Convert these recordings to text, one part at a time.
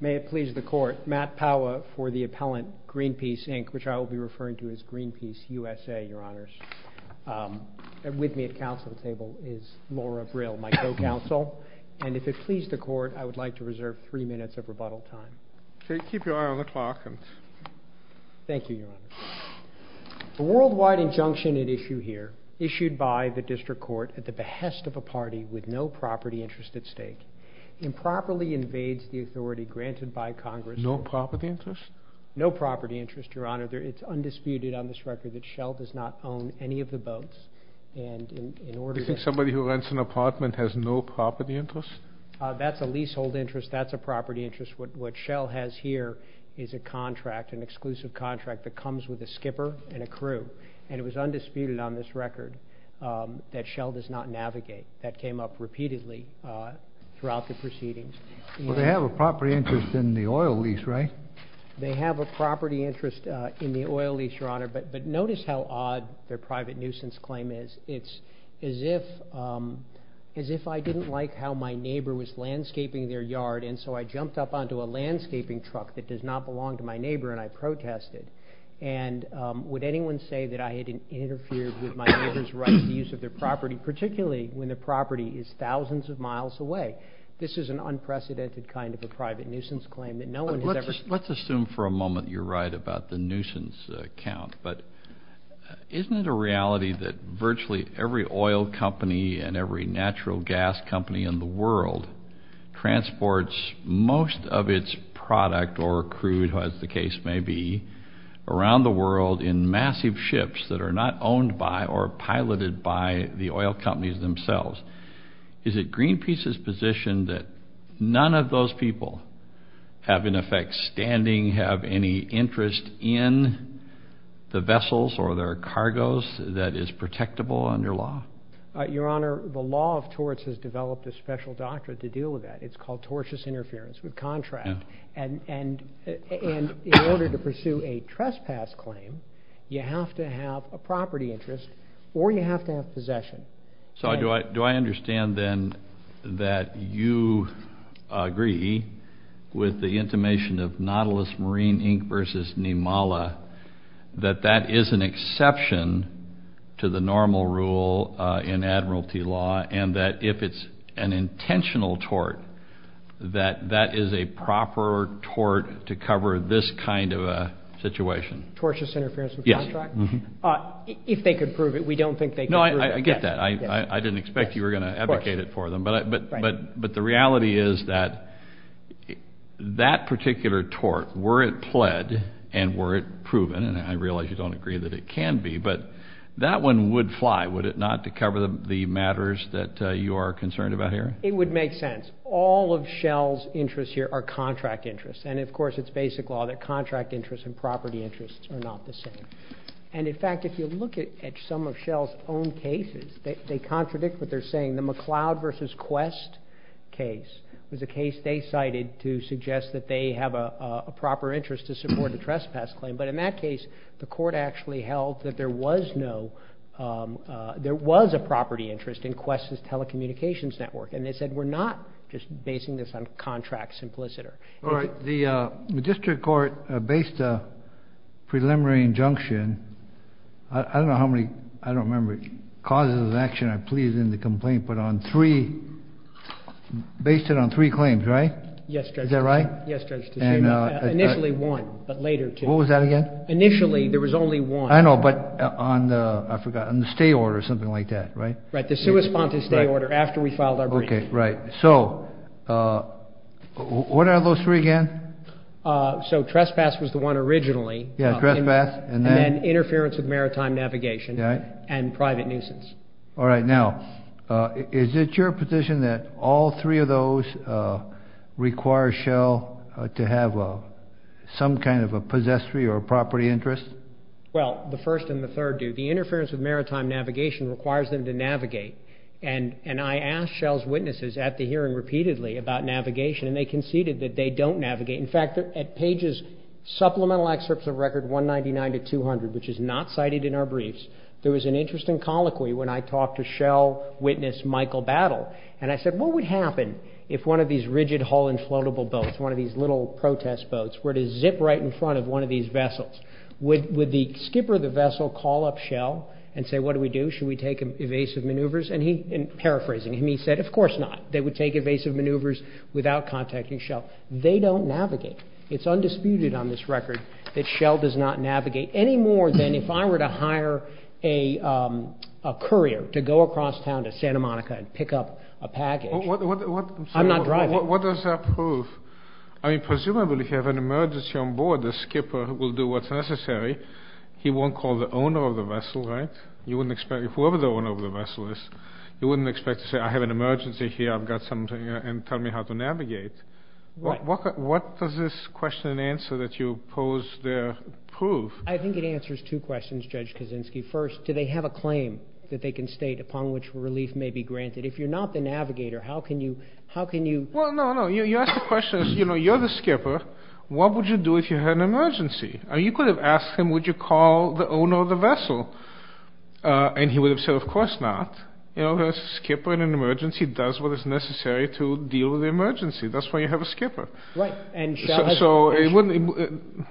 May it please the Court, Matt Powa for the appellant, Greenpeace, Inc., which I will be referring to as Greenpeace USA, Your Honors. With me at council table is Laura Brill, my co-counsel, and if it please the Court, I would like to reserve three minutes of rebuttal time. Keep your eye on the clock. Thank you, Your Honor. A worldwide injunction at issue here, issued by the district court at the behest of a party with no property interest at stake, improperly invades the authority granted by Congress No property interest? No property interest, Your Honor. It's undisputed on this record that Shell does not own any of the boats, and in order to Somebody who rents an apartment has no property interest? That's a leasehold interest. That's a property interest. What Shell has here is a contract, an exclusive contract that comes with a skipper and a crew, and it was undisputed on this record that Shell does not navigate. That came up repeatedly throughout the proceedings. Well, they have a property interest in the oil lease, right? They have a property interest in the oil lease, Your Honor, but notice how odd their private nuisance claim is. It's as if I didn't like how my neighbor was landscaping their yard, and so I jumped up onto a landscaping truck that does not belong to my neighbor, and I protested, and would anyone say that I had interfered with my neighbor's right to use of their property, particularly when the property is thousands of miles away? This is an unprecedented kind of a private nuisance claim that no one has ever Let's assume for a moment you're right about the nuisance count, but isn't it a reality that virtually every oil company and every natural gas company in the world transports most of its product or crew, as the case may be, around the world in massive ships that are not owned by or piloted by the oil companies themselves? Is it Greenpeace's position that none of those people have, in effect, standing, have any interest in the vessels or their cargoes that is protectable under law? Your Honor, the law of torts has developed a special doctrine to deal with that. It's called tortious interference with contract, and in order to pursue a trespass claim, you have to have a property interest or you have to have possession. So do I understand, then, that you agree with the intimation of Nautilus Marine, Inc. versus Nimala, that that is an exception to the normal rule in admiralty law, and that if it's an intentional tort, that that is a proper tort to cover this kind of a situation? Tortious interference with contract? Yes. If they could prove it. We don't think they could prove it. No, I get that. I didn't expect you were going to advocate it for them, but the reality is that that particular tort, were it pled and were it proven, and I realize you don't agree that it can be, but that one would fly, would it not, to cover the matters that you are concerned about here? It would make sense. All of Shell's interests here are contract interests, and of course, it's basic law that contract interests and property interests are not the same. And in fact, if you look at some of Shell's own cases, they contradict what they're saying. The McLeod versus Quest case was a case they cited to suggest that they have a proper interest to support the trespass claim, but in that case, the court actually held that there was no, there was a property interest in Quest's telecommunications network, and they said, we're not just basing this on contract simpliciter. All right. The district court based a preliminary injunction, I don't know how many, I don't remember, causes of action I pleaded in the complaint, but on three, based it on three claims, right? Yes, Judge. Is that right? Yes, Judge. Initially one, but later two. What was that again? Initially, there was only one. I know, but on the, I forgot, on the stay order or something like that, right? Right. The suicide stay order, after we filed our brief. Okay. Right. So, what are those three again? So trespass was the one originally, and then interference with maritime navigation and private nuisance. All right. Now, is it your position that all three of those require Shell to have some kind of a possessory or a property interest? Well, the first and the third do. The interference with maritime navigation requires them to navigate, and I asked Shell's team, and I'm hearing repeatedly about navigation, and they conceded that they don't navigate. In fact, at pages, supplemental excerpts of record 199 to 200, which is not cited in our briefs, there was an interesting colloquy when I talked to Shell witness Michael Battle, and I said, what would happen if one of these rigid hull inflatable boats, one of these little protest boats, were to zip right in front of one of these vessels? Would the skipper of the vessel call up Shell and say, what do we do? Should we take evasive maneuvers? And paraphrasing him, he said, of course not. They would take evasive maneuvers without contacting Shell. They don't navigate. It's undisputed on this record that Shell does not navigate any more than if I were to hire a courier to go across town to Santa Monica and pick up a package. I'm not driving. What does that prove? I mean, presumably, if you have an emergency on board, the skipper will do what's necessary. He won't call the owner of the vessel, right? You wouldn't expect, whoever the owner of the vessel is, you wouldn't expect to say, I have an emergency here, I've got something, and tell me how to navigate. What does this question and answer that you pose there prove? I think it answers two questions, Judge Kuczynski. First, do they have a claim that they can state upon which relief may be granted? If you're not the navigator, how can you, how can you... Well, no, no. You asked the question, you know, you're the skipper. What would you do if you had an emergency? I mean, you could have asked him, would you call the owner of the vessel? And he would have said, of course not. You know, a skipper in an emergency does what is necessary to deal with the emergency. That's why you have a skipper. Right. And Shell has... So, it wouldn't...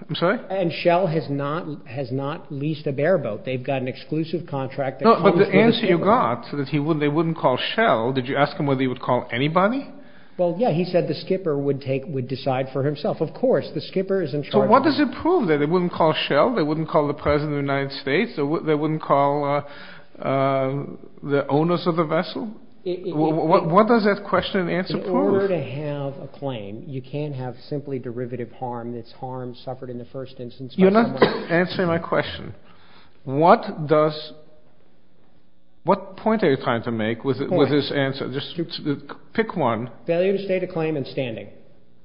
I'm sorry? And Shell has not leased a bare boat. They've got an exclusive contract that comes with the skipper. No, but the answer you got, that they wouldn't call Shell, did you ask him whether he would call anybody? Well, yeah. He said the skipper would take, would decide for himself. Of course, the skipper is in charge of... What does it prove then? They wouldn't call Shell, they wouldn't call the President of the United States, they wouldn't call the owners of the vessel? What does that question and answer prove? If you were to have a claim, you can't have simply derivative harm, that's harm suffered in the first instance... You're not answering my question. What does... What point are you trying to make with this answer? Just pick one. Failure to state a claim and standing.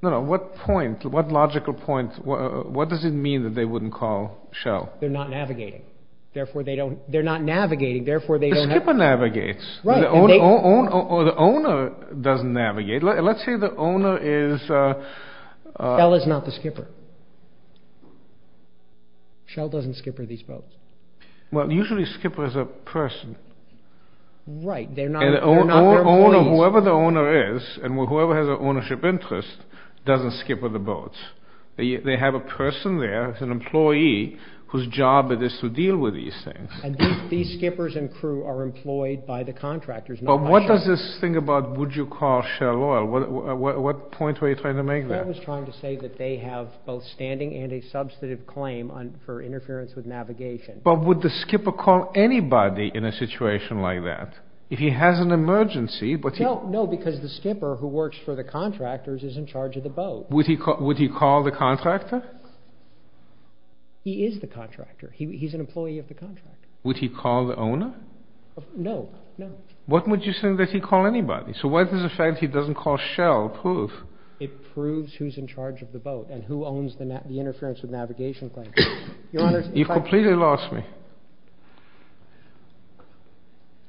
No, no. What point, what logical point, what does it mean that they wouldn't call Shell? They're not navigating. Therefore they don't... They're not navigating, therefore they don't have... The skipper navigates. Right. Or the owner doesn't navigate. Let's say the owner is... Shell is not the skipper. Shell doesn't skipper these boats. Well, usually skipper is a person. Right. They're not... And the owner, whoever the owner is, and whoever has an ownership interest, doesn't skipper the boats. They have a person there, an employee, whose job it is to deal with these things. And these skippers and crew are employed by the contractors, not by Shell. But what does this thing about, would you call Shell oil, what point were you trying to make there? I was trying to say that they have both standing and a substantive claim for interference with navigation. But would the skipper call anybody in a situation like that? If he has an emergency, but he... No, because the skipper who works for the contractors is in charge of the boat. Would he call the contractor? He is the contractor. He's an employee of the contractor. Would he call the owner? No. No. What would you say that he'd call anybody? So what does the fact he doesn't call Shell prove? It proves who's in charge of the boat and who owns the interference with navigation claim. Your Honor, if I... You've completely lost me.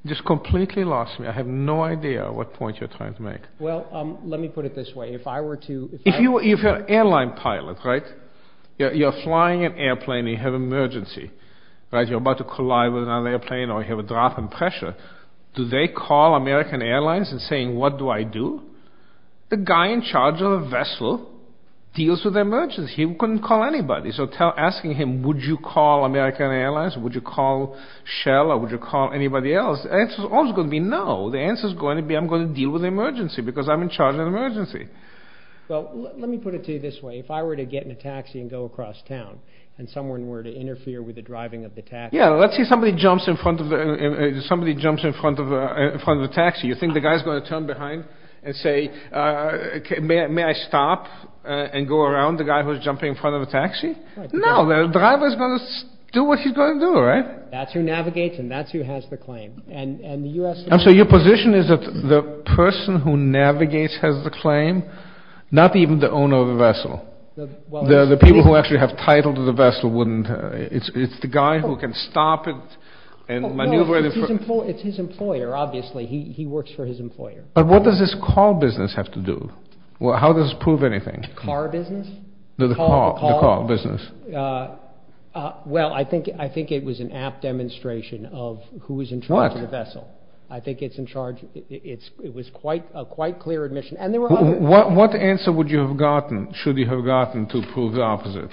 Just completely lost me. I have no idea what point you're trying to make. Well, let me put it this way. If I were to... If you're an airline pilot, right? You're flying an airplane, you have an emergency, right? You're about to collide with another airplane or you have a drop in pressure. Do they call American Airlines and saying, what do I do? The guy in charge of the vessel deals with emergencies. He couldn't call anybody. So asking him, would you call American Airlines? Would you call Shell or would you call anybody else? The answer's always going to be no. The answer's going to be, I'm going to deal with the emergency because I'm in charge of the emergency. Well, let me put it to you this way. If I were to get in a taxi and go across town and someone were to interfere with the driving of the taxi... Yeah. Let's say somebody jumps in front of the... Somebody jumps in front of the taxi. You think the guy's going to turn behind and say, may I stop and go around the guy who's jumping in front of the taxi? No. The driver's going to do what he's going to do, right? That's who navigates and that's who has the claim. And the US... So your position is that the person who navigates has the claim, not even the owner of the vessel. The people who actually have title to the vessel wouldn't... It's the guy who can stop it and maneuver it... It's his employer, obviously. He works for his employer. But what does this call business have to do? Well, how does this prove anything? Car business? The call business. Well, I think it was an apt demonstration of who was in charge of the vessel. I think it's in charge... It was quite a clear admission and there were other... What answer would you have gotten, should you have gotten, to prove the opposite?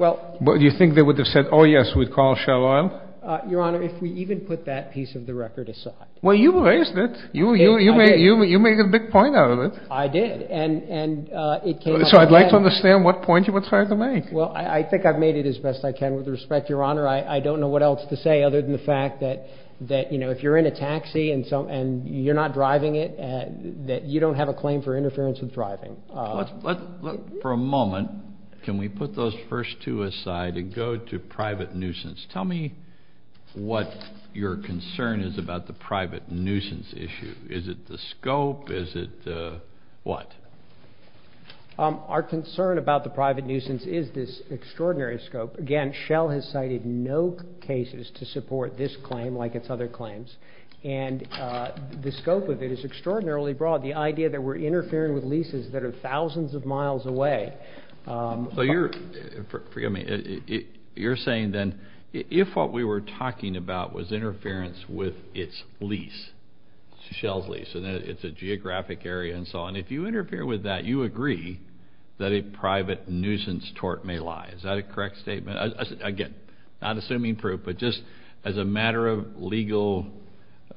You think they would have said, oh yes, we'd call Shell Oil? Your Honor, if we even put that piece of the record aside... Well, you raised it. I did. You made a big point out of it. I did. And it came... So I'd like to understand what point you were trying to make. Well, I think I've made it as best I can. With respect, Your Honor, I don't know what else to say other than the fact that if you're in a taxi and you're not driving it, that you don't have a claim for interference with driving. Let's, for a moment, can we put those first two aside and go to private nuisance? Tell me what your concern is about the private nuisance issue. Is it the scope? Is it the what? Our concern about the private nuisance is this extraordinary scope. Again, Shell has cited no cases to support this claim like its other claims. And the scope of it is extraordinarily broad. The idea that we're interfering with leases that are thousands of miles away... So you're... Forgive me. You're saying then, if what we were talking about was interference with its lease, Shell's lease, and it's a geographic area and so on. And if you interfere with that, you agree that a private nuisance tort may lie. Is that a correct statement? Again, not assuming proof, but just as a matter of legal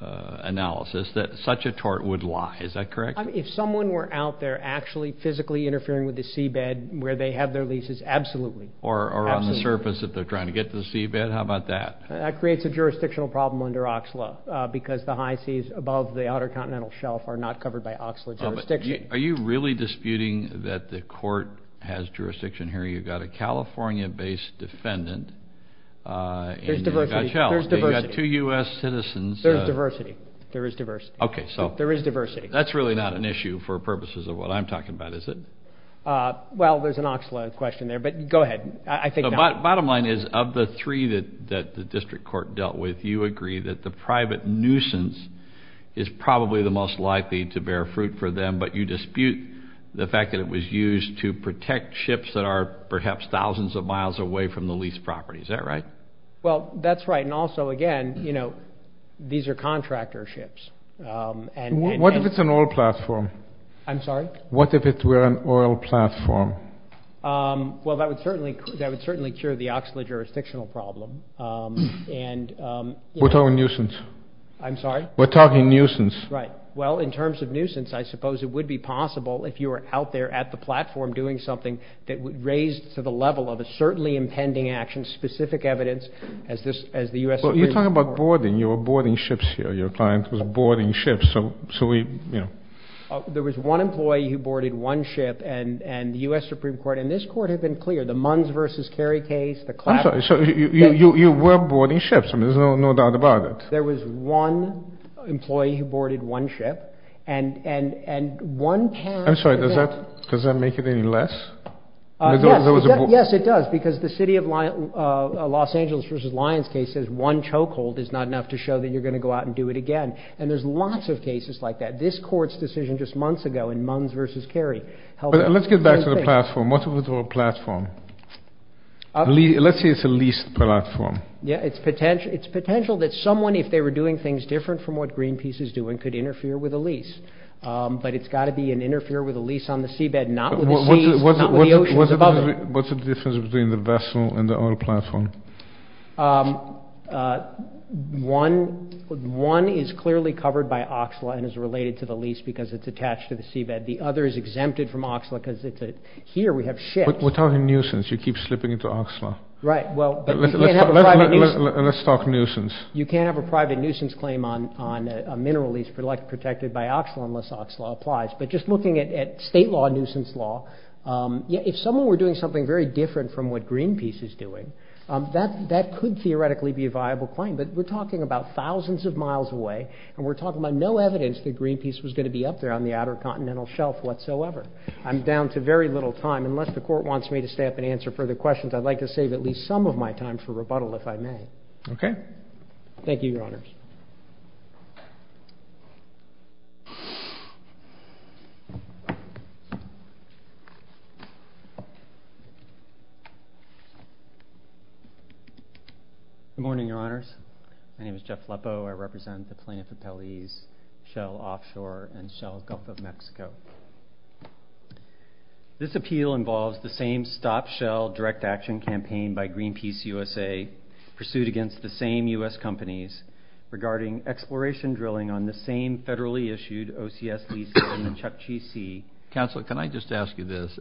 analysis, that such a tort would lie. Is that correct? If someone were out there actually physically interfering with the seabed where they have their leases, absolutely. Absolutely. Or on the surface if they're trying to get to the seabed, how about that? That creates a jurisdictional problem under OXLA, because the high seas above the Outer Are you really disputing that the court has jurisdiction here? You've got a California-based defendant in your gut shell. There's diversity. There's diversity. You've got two U.S. citizens. There's diversity. There is diversity. Okay. So... There is diversity. That's really not an issue for purposes of what I'm talking about, is it? Well, there's an OXLA question there, but go ahead. I think not. Bottom line is, of the three that the district court dealt with, you agree that the private the fact that it was used to protect ships that are perhaps thousands of miles away from the lease property. Is that right? Well, that's right. And also, again, these are contractor ships. What if it's an oil platform? I'm sorry? What if it were an oil platform? Well, that would certainly cure the OXLA jurisdictional problem, and... We're talking nuisance. I'm sorry? We're talking nuisance. Right. Well, in terms of nuisance, I suppose it would be possible if you were out there at the platform doing something that would raise to the level of a certainly impending action, specific evidence as the U.S. Supreme Court... Well, you're talking about boarding. You were boarding ships here. Your client was boarding ships, so we, you know... There was one employee who boarded one ship, and the U.S. Supreme Court and this court have been clear. The Munns v. Kerry case, the Clapper... I'm sorry. So you were boarding ships. I mean, there's no doubt about it. There was one employee who boarded one ship, and one can... I'm sorry. Does that make it any less? Yes. Yes, it does, because the City of Los Angeles v. Lyons case says one chokehold is not enough to show that you're going to go out and do it again. And there's lots of cases like that. This court's decision just months ago in Munns v. Kerry... Let's get back to the platform. What if it were a platform? Let's say it's a leased platform. Yeah, it's potential that someone, if they were doing things different from what Greenpeace is doing, could interfere with a lease. But it's got to be an interfere with a lease on the seabed, not with the seas, not with the oceans above it. What's the difference between the vessel and the oil platform? One is clearly covered by OXLA and is related to the lease because it's attached to the seabed. The other is exempted from OXLA because it's a... Here we have ships. Without a nuisance. You keep slipping into OXLA. Right. Let's talk nuisance. You can't have a private nuisance claim on a mineral lease protected by OXLA unless OXLA applies. But just looking at state law nuisance law, if someone were doing something very different from what Greenpeace is doing, that could theoretically be a viable claim. But we're talking about thousands of miles away, and we're talking about no evidence that Greenpeace was going to be up there on the outer continental shelf whatsoever. I'm down to very little time. Unless the court wants me to stay up and answer further questions, I'd like to save at least some of my time for rebuttal, if I may. Okay. Thank you, Your Honors. Good morning, Your Honors. My name is Jeff Leppo. I represent the plaintiff appellees, Shell Offshore and Shell Gulf of Mexico. This appeal involves the same stop-shell direct action campaign by Greenpeace USA pursued against the same U.S. companies regarding exploration drilling on the same federally issued OCS lease in the Chukchi Sea. Counselor, can I just ask you this?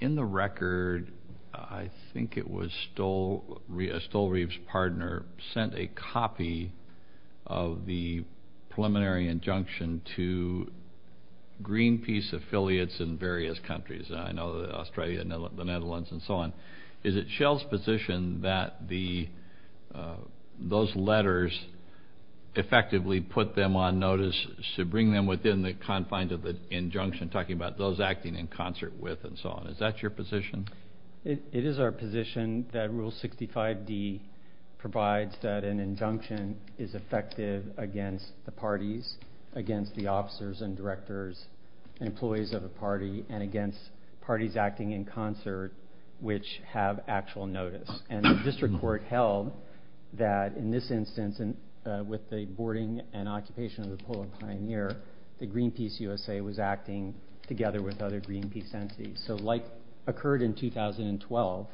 In the record, I think it was Stolreave's partner sent a copy of the preliminary injunction to Greenpeace affiliates in various countries. I know Australia, the Netherlands, and so on. Is it Shell's position that those letters effectively put them on notice to bring them within the confines of the injunction, talking about those acting in concert with and so on? Is that your position? It is our position that Rule 65D provides that an injunction is effective against the officers and directors, employees of a party, and against parties acting in concert which have actual notice. And the district court held that in this instance, with the boarding and occupation of the Polar Pioneer, that Greenpeace USA was acting together with other Greenpeace entities. So like occurred in 2012,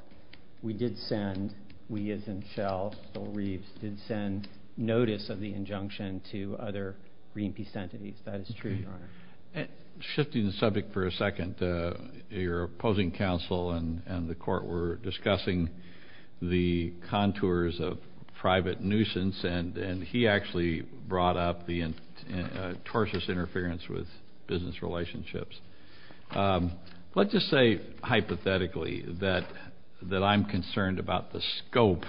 we did send, we as in Shell, Stolreave's, did send notice of the injunction to other Greenpeace entities. That is true, Your Honor. Shifting the subject for a second, your opposing counsel and the court were discussing the contours of private nuisance, and he actually brought up the tortious interference with business relationships. Let's just say hypothetically that I'm concerned about the scope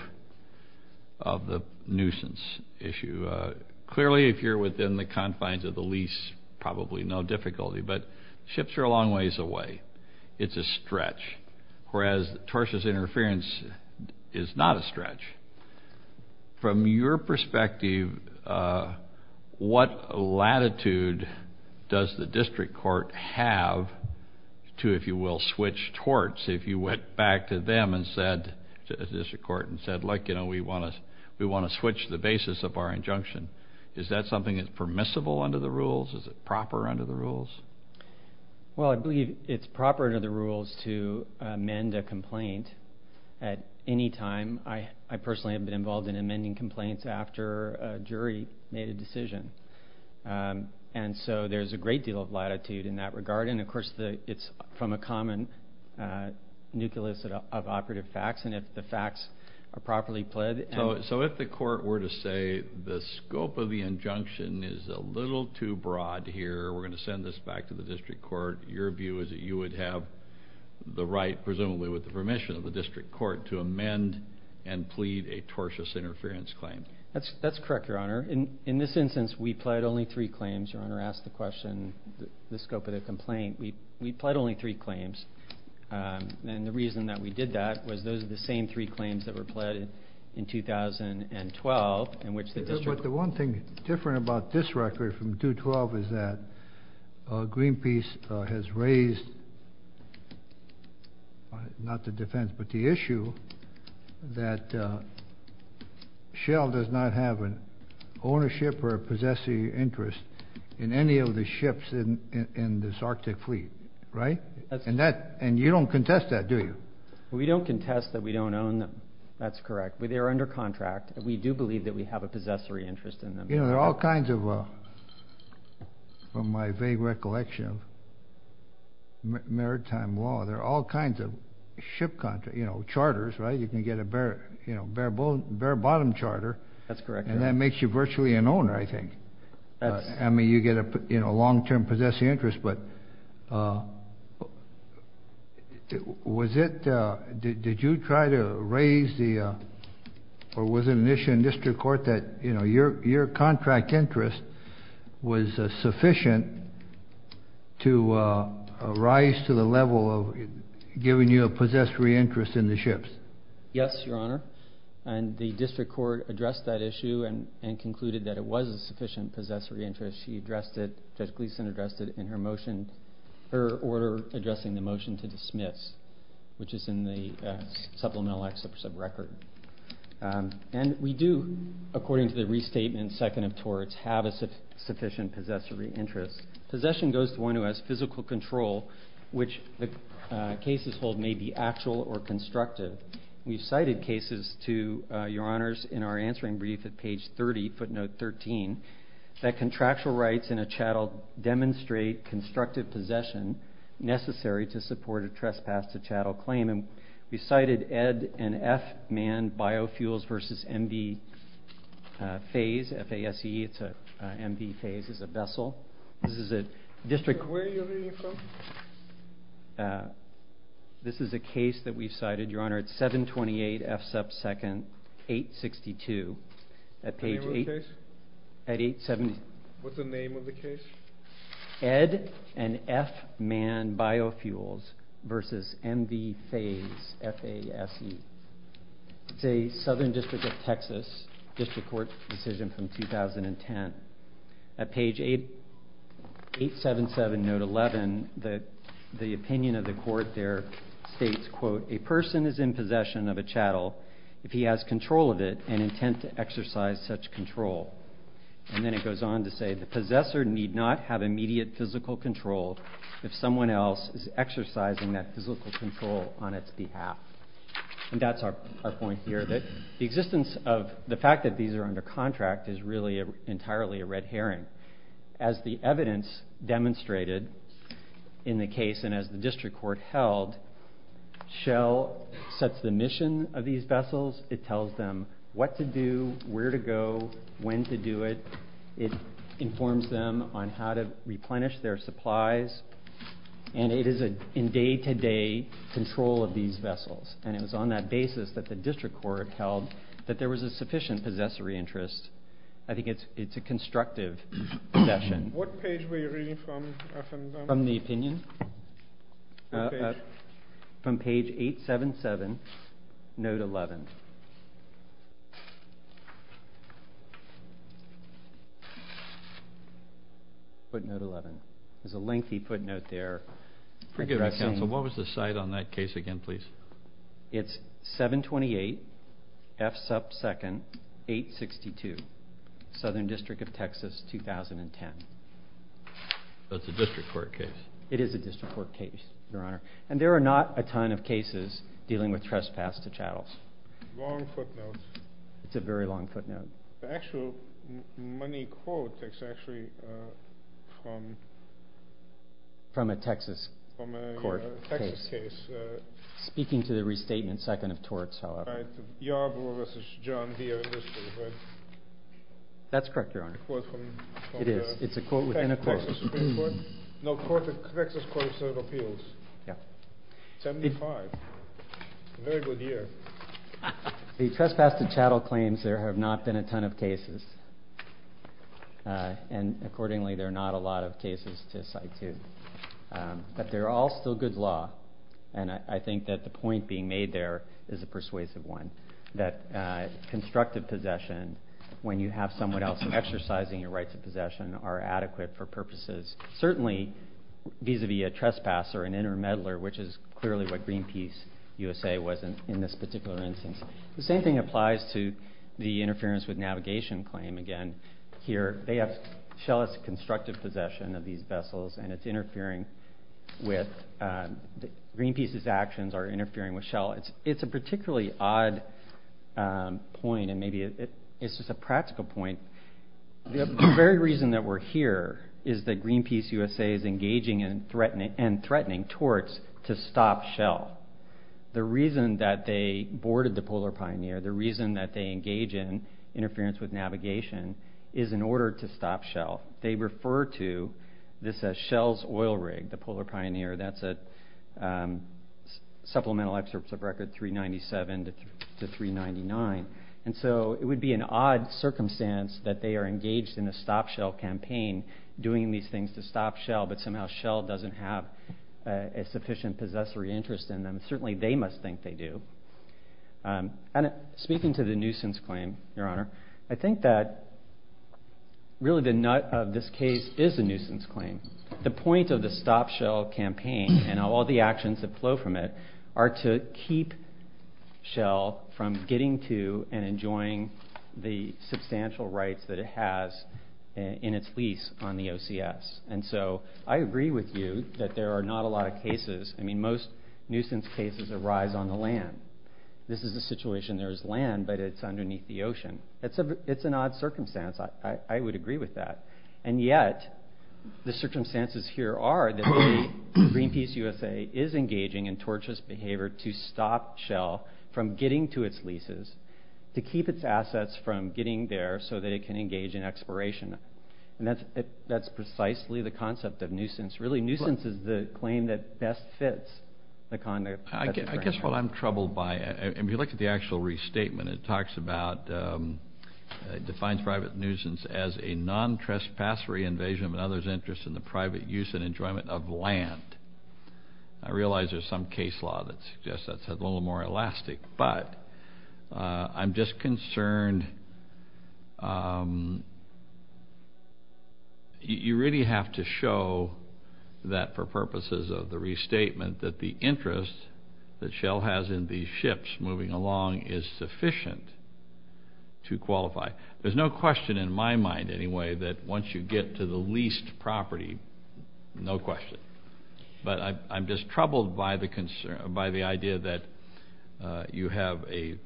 of the nuisance issue. Clearly if you're within the confines of the lease, probably no difficulty, but ships are a long ways away. It's a stretch, whereas tortious interference is not a stretch. From your perspective, what latitude does the district court have to, if you will, switch torts if you went back to them and said, to the district court and said, like, you know, we want to switch the basis of our injunction. Is that something that's permissible under the rules? Is it proper under the rules? Well, I believe it's proper under the rules to amend a complaint at any time. I personally have been involved in amending complaints after a jury made a decision. And so there's a great deal of latitude in that regard, and of course it's from a common nucleus of operative facts, and if the facts are properly pled. So if the court were to say the scope of the injunction is a little too broad here, we're going to send this back to the district court, your view is that you would have the right, presumably with the permission of the district court, to amend and plead a tortious interference claim. That's correct, your honor. In this instance, we pled only three claims, your honor asked the question, the scope of the complaint. We pled only three claims, and the reason that we did that was those are the same three claims that were pled in 2012, in which the district court. The one thing different about this record from 212 is that Greenpeace has raised, not the defense, but the issue that Shell does not have an ownership or a possessory interest in any of the ships in this Arctic fleet, right? And you don't contest that, do you? We don't contest that we don't own them, that's correct. They are under contract. We do believe that we have a possessory interest in them. You know, there are all kinds of, from my vague recollection of maritime law, there are all kinds of ship, you know, charters, right? You can get a bare-bottom charter, and that makes you virtually an owner, I think. I mean, you get a long-term possessing interest, but was it, did you try to raise the, or was it an issue in district court that, you know, your contract interest was sufficient to rise to the level of giving you a possessory interest in the ships? Yes, your honor. And the district court addressed that issue and concluded that it was a sufficient possessory interest. She addressed it, Judge Gleeson addressed it in her motion, her order addressing the motion to dismiss, which is in the Supplemental Act Sub-Record. And we do, according to the restatement, second of torts, have a sufficient possessory interest. Possession goes to one who has physical control, which the cases hold may be actual or constructive. We've cited cases to your honors in our answering brief at page 30, footnote 13, that contractual rights in a chattel demonstrate constructive possession necessary to support a trespass to chattel claim. And we cited Ed and F Mann biofuels versus MV phase, F-A-S-E, it's a MV phase, it's a vessel. This is a district court. Where are you reading from? This is a case that we've cited, your honor, it's 728 F sub 2nd, 862, at page 8, at 870. What's the name of the case? Ed and F Mann biofuels versus MV phase, F-A-S-E, it's a southern district of Texas, district court decision from 2010. At page 877, note 11, the opinion of the court there states, quote, a person is in possession of a chattel if he has control of it and intent to exercise such control. And then it goes on to say, the possessor need not have immediate physical control if someone else is exercising that physical control on its behalf. And that's our point here, that the existence of, the fact that these are under contract is really entirely a red herring. As the evidence demonstrated in the case and as the district court held, Shell sets the mission of these vessels, it tells them what to do, where to go, when to do it, it informs them on how to replenish their supplies, and it is in day-to-day control of these vessels. And it was on that basis that the district court held that there was a sufficient possessory interest. I think it's a constructive possession. What page were you reading from? From the opinion? From page 877, note 11. There's a lengthy footnote there. Forgive me, counsel, what was the site on that case again, please? It's 728 F. Sup. 2nd, 862, Southern District of Texas, 2010. That's a district court case? It is a district court case, your honor. And there are not a ton of cases dealing with trespass to chattels. Long footnotes. It's a very long footnote. The actual money quote is actually from... From a Texas court case. From a Texas case. Speaking to the restatement second of torts, however. Yarbrough v. John Deere in this case, right? That's correct, your honor. It's a quote from... It is. It's a quote within a quote. Texas Supreme Court? No, Texas Court of Appeals. Yeah. 75. Very good year. The trespass to chattel claims, there have not been a ton of cases, and accordingly, there are not a lot of cases to cite, too. But they're all still good law. And I think that the point being made there is a persuasive one. That constructive possession, when you have someone else exercising your rights of possession, are adequate for purposes, certainly vis-a-vis a trespasser, an intermeddler, which is clearly what Greenpeace USA was in this particular instance. The same thing applies to the interference with navigation claim, again. Here, Shell has constructive possession of these vessels, and it's interfering with... Greenpeace's actions are interfering with Shell. It's a particularly odd point, and maybe it's just a practical point. The very reason that we're here is that Greenpeace USA is engaging and threatening torts to stop Shell. The reason that they boarded the Polar Pioneer, the reason that they engage in interference with navigation, is in order to stop Shell. They refer to this as Shell's oil rig, the Polar Pioneer. That's a supplemental excerpt of record 397 to 399. And so it would be an odd circumstance that they are engaged in a stop Shell campaign, doing these things to stop Shell, but somehow Shell doesn't have a sufficient possessory interest in them. Certainly, they must think they do. And speaking to the nuisance claim, Your Honor, I think that really the nut of this case is a nuisance claim. The point of the stop Shell campaign, and all the actions that flow from it, are to keep Shell from getting to and enjoying the substantial rights that it has in its lease on the OCS. And so I agree with you that there are not a lot of cases, I mean most nuisance cases arise on the land. This is a situation, there is land, but it's underneath the ocean. It's an odd circumstance, I would agree with that. And yet, the circumstances here are that Greenpeace USA is engaging in torturous behavior to stop Shell from getting to its leases, to keep its assets from getting there so that it can engage in exploration. And that's precisely the concept of nuisance. Really, nuisance is the claim that best fits the conduct. I guess what I'm troubled by, and if you look at the actual restatement, it talks about, defines private nuisance as a non-trespassory invasion of another's interest in the private use and enjoyment of land. I realize there's some case law that suggests that's a little more elastic, but I'm just that for purposes of the restatement that the interest that Shell has in these ships moving along is sufficient to qualify. There's no question in my mind, anyway, that once you get to the leased property, no question. But I'm just troubled by the idea that you have a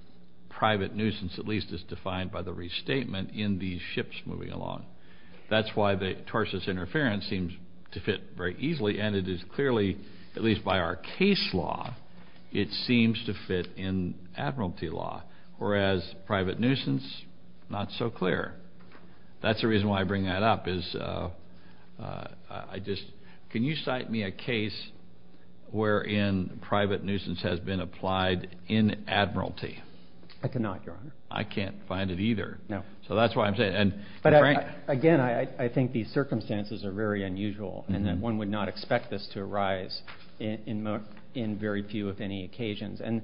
private nuisance, at least as defined by the restatement, in these ships moving along. That's why the torsus interference seems to fit very easily, and it is clearly, at least by our case law, it seems to fit in admiralty law, whereas private nuisance, not so clear. That's the reason why I bring that up, is I just, can you cite me a case wherein private nuisance has been applied in admiralty? I cannot, Your Honor. I can't find it either. No. So that's why I'm saying, and Frank- Again, I think these circumstances are very unusual, and that one would not expect this to arise in very few, if any, occasions. And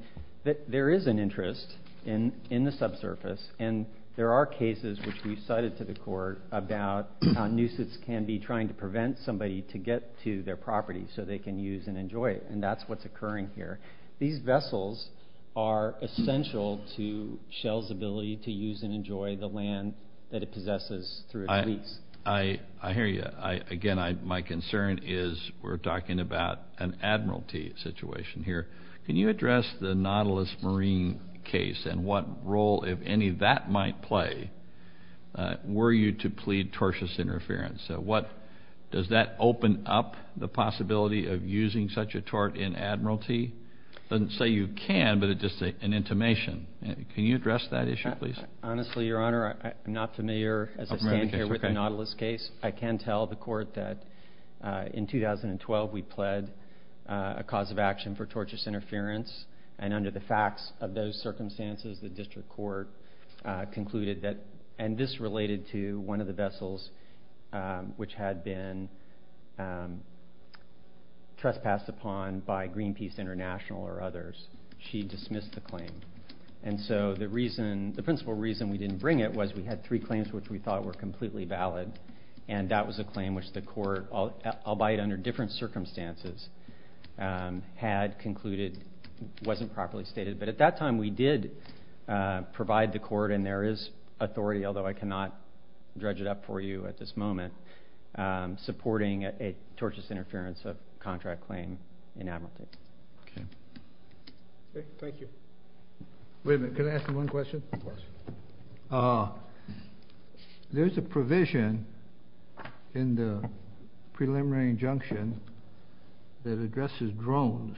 there is an interest in the subsurface, and there are cases which we've cited to the court about how nuisance can be trying to prevent somebody to get to their property so they can use and enjoy it, and that's what's occurring here. These vessels are essential to shells' ability to use and enjoy the land that it possesses through its leaks. I hear you. Again, my concern is, we're talking about an admiralty situation here. Can you address the Nautilus Marine case and what role, if any, that might play were you to plead torsus interference? So does that open up the possibility of using such a tort in admiralty? It doesn't say you can, but it's just an intimation. Can you address that issue, please? Honestly, Your Honor, I'm not familiar as I stand here with the Nautilus case. I can tell the court that in 2012, we pled a cause of action for tortuous interference, and under the facts of those circumstances, the district court concluded that, and this had been trespassed upon by Greenpeace International or others, she dismissed the claim. And so the principle reason we didn't bring it was we had three claims which we thought were completely valid, and that was a claim which the court, albeit under different circumstances, had concluded wasn't properly stated. But at that time, we did provide the court, and there is authority, although I cannot dredge it up for you at this moment, supporting a tortuous interference of contract claim in admiralty. Okay. Thank you. Wait a minute. Can I ask you one question? Of course. There's a provision in the preliminary injunction that addresses drones.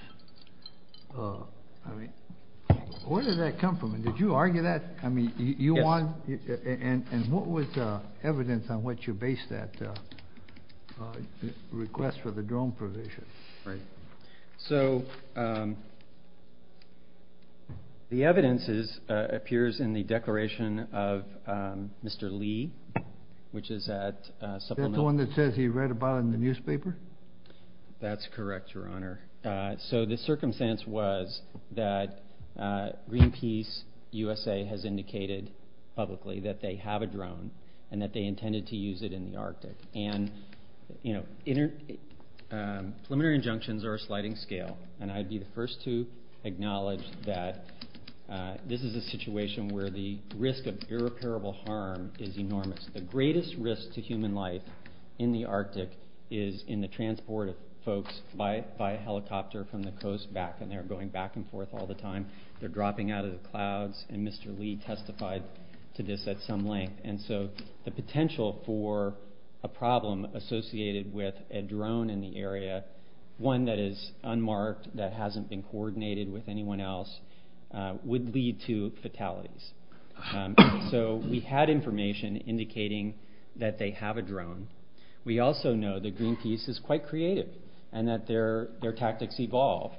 I mean, where did that come from? And did you argue that? Yes. And what was the evidence on which you based that request for the drone provision? Right. So, the evidence appears in the declaration of Mr. Lee, which is at Supplemental— That's the one that says he read about it in the newspaper? That's correct, Your Honor. So, the circumstance was that Greenpeace USA has indicated publicly that they have a drone and that they intended to use it in the Arctic. And preliminary injunctions are a sliding scale, and I'd be the first to acknowledge that this is a situation where the risk of irreparable harm is enormous. The greatest risk to human life in the Arctic is in the transport of folks by helicopter from the coast back, and they're going back and forth all the time. They're dropping out of the clouds, and Mr. Lee testified to this at some length. And so, the potential for a problem associated with a drone in the area, one that is unmarked, that hasn't been coordinated with anyone else, would lead to fatalities. So, we had information indicating that they have a drone. We also know that Greenpeace is quite creative and that their tactics evolve,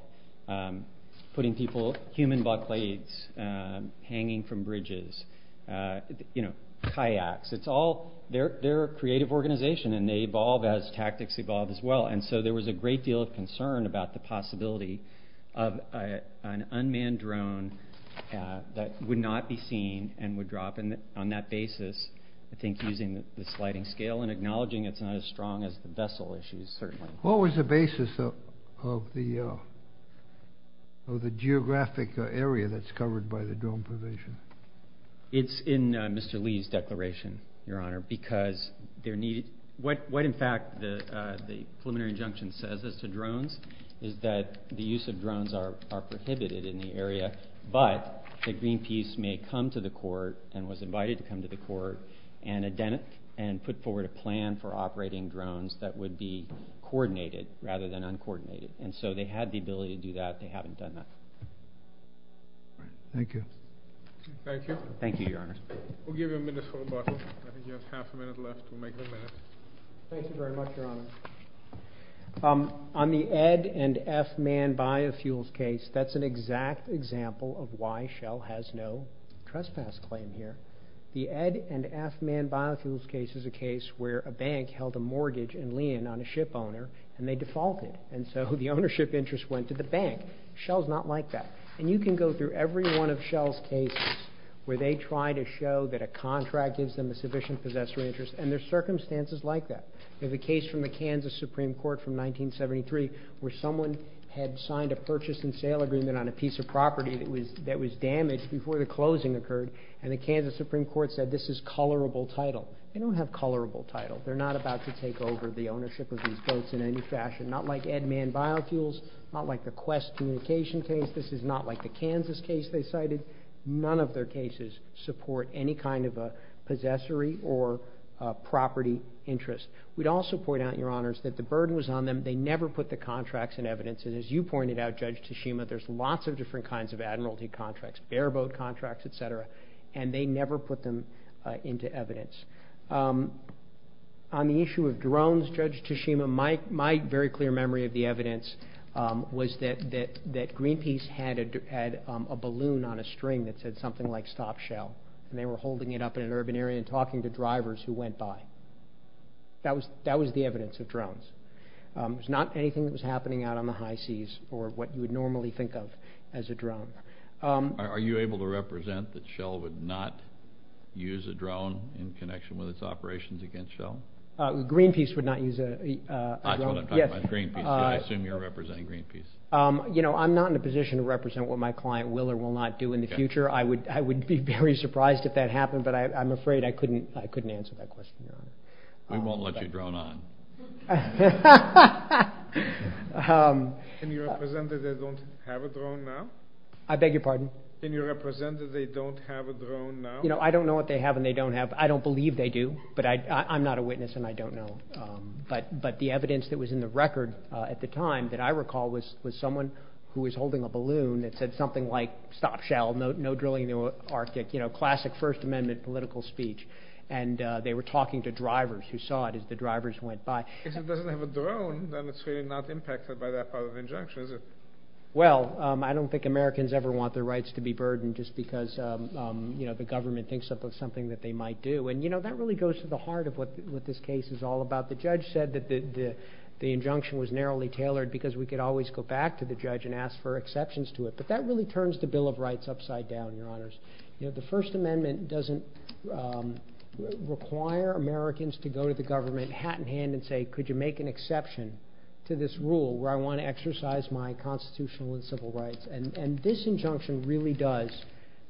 putting people, human bucklades, hanging from bridges, you know, kayaks. It's all—they're a creative organization, and they evolve as tactics evolve as well. And so, there was a great deal of concern about the possibility of an unmanned drone that would not be seen and would drop on that basis, I think, using the sliding scale and acknowledging it's not as strong as the vessel issues, certainly. What was the basis of the geographic area that's covered by the drone probation? It's in Mr. Lee's declaration, Your Honor, because there need— what, in fact, the preliminary injunction says as to drones is that the use of drones are prohibited in the area, but that Greenpeace may come to the court and was invited to come to the court and put forward a plan for operating drones that would be coordinated rather than uncoordinated. And so, they had the ability to do that. They haven't done that. Thank you. Thank you. Thank you, Your Honor. We'll give you a minute for rebuttal. I think you have half a minute left. We'll make it a minute. Thank you very much, Your Honor. On the Ed and F Mann biofuels case, that's an exact example of why Shell has no trespass claim here. The Ed and F Mann biofuels case is a case where a bank held a mortgage in Lian on a ship owner and they defaulted, and so the ownership interest went to the bank. Shell's not like that. And you can go through every one of Shell's cases where they try to show that a contract gives them a sufficient possessory interest, and there's circumstances like that. There's a case from the Kansas Supreme Court from 1973 where someone had signed a purchase and sale agreement on a piece of property that was damaged before the closing occurred, and the Kansas Supreme Court said this is colorable title. They don't have colorable title. They're not about to take over the ownership of these boats in any fashion, not like Ed Mann biofuels, not like the Quest communication case. This is not like the Kansas case they cited. None of their cases support any kind of a possessory or property interest. We'd also point out, Your Honors, that the burden was on them. They never put the contracts in evidence, and as you pointed out, Judge Tashima, there's lots of different kinds of admiralty contracts, bareboat contracts, et cetera, and they never put them into evidence. On the issue of drones, Judge Tashima, my very clear memory of the evidence was that Greenpeace had a balloon on a string that said something like, Stop Shell, and they were holding it up in an urban area and talking to drivers who went by. That was the evidence of drones. It was not anything that was happening out on the high seas or what you would normally think of as a drone. Are you able to represent that Shell would not use a drone in connection with its operations against Shell? Greenpeace would not use a drone. I assume you're representing Greenpeace. I'm not in a position to represent what my client will or will not do in the future. I would be very surprised if that happened, but I'm afraid I couldn't answer that question. We won't let you drone on. Can you represent that they don't have a drone now? I beg your pardon? Can you represent that they don't have a drone now? I don't know what they have and they don't have. I don't believe they do, but I'm not a witness and I don't know. But the evidence that was in the record at the time that I recall was someone who was holding a balloon that said something like, Stop Shell, no drilling in the Arctic. Classic First Amendment political speech. And they were talking to drivers who saw it as the drivers went by. If it doesn't have a drone, then it's really not impacted by that part of the injunction, is it? Well, I don't think Americans ever want their rights to be burdened just because the government thinks of something that they might do. And that really goes to the heart of what this case is all about. The judge said that the injunction was narrowly tailored because we could always go back to the judge and ask for exceptions to it. But that really turns the Bill of Rights upside down, Your Honors. The First Amendment doesn't require Americans to go to the government, hat in hand, and say, Could you make an exception to this rule where I want to exercise my constitutional and civil rights? And this injunction really does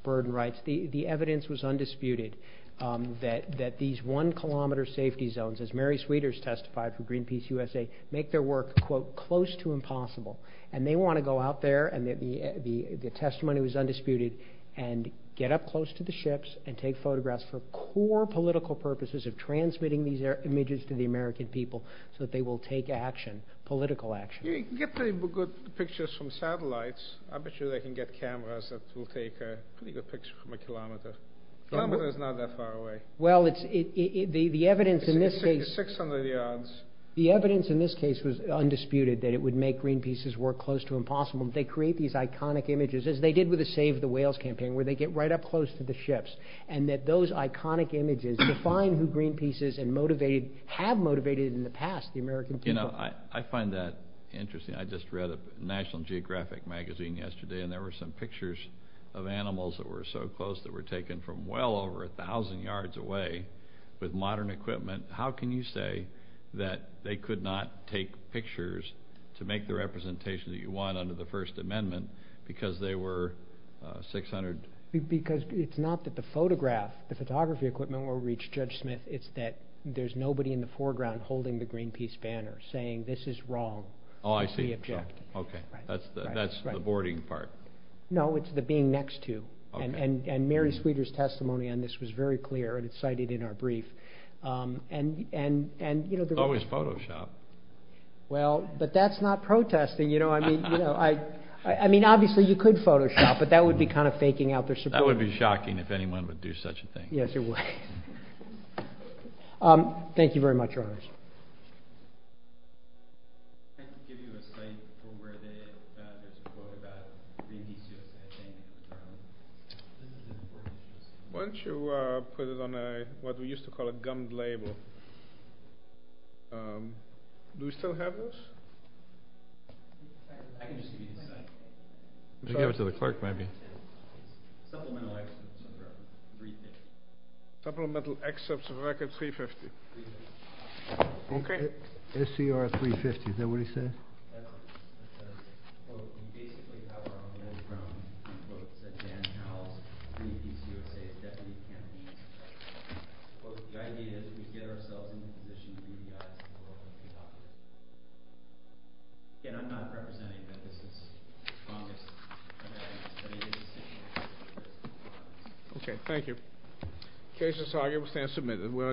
burden rights. The evidence was undisputed that these one-kilometer safety zones, as Mary Sweeters testified from Greenpeace USA, make their work, quote, close to impossible. And they want to go out there, and the testimony was undisputed, and get up close to the ships and take photographs for core political purposes of transmitting these images to the American people so that they will take action, political action. You can get pretty good pictures from satellites. I bet you they can get cameras that will take a pretty good picture from a kilometer. A kilometer is not that far away. Well, the evidence in this case... It's 600 yards. The evidence in this case was undisputed that it would make Greenpeace's work close to impossible. They create these iconic images, as they did with the Save the Whales campaign, where they get right up close to the ships, and that those iconic images define who Greenpeace is and have motivated in the past the American people. You know, I find that interesting. I just read a National Geographic magazine yesterday, and there were some pictures of animals that were so close that were taken from well over 1,000 yards away with modern equipment. How can you say that they could not take pictures to make the representation that you want under the First Amendment because they were 600... Because it's not that the photograph, the photography equipment, will reach Judge Smith. It's that there's nobody in the foreground holding the Greenpeace banner saying, this is wrong. Oh, I see. Okay. That's the boarding part. No, it's the being next to. And Mary Sweeter's testimony on this was very clear, and it's cited in our brief. And, you know... It's always Photoshopped. Well, but that's not protesting. I mean, obviously you could Photoshop, but that would be kind of faking out their support. That would be shocking if anyone would do such a thing. Yes, it would. Thank you very much, Your Honors. Why don't you put it on what we used to call a gummed label. Do we still have those? Supplemental excerpts of Record 350. Okay. SCR 350. Is that what he said? That's a quote from basically how we're on the old ground. He said, Dan Howells, Greenpeace USA's Deputy Campaign Specialist. Quote, the idea that we get ourselves in the position we got. Again, I'm not representing that this is wrong. Okay. Thank you. The case is argued. We stand submitted.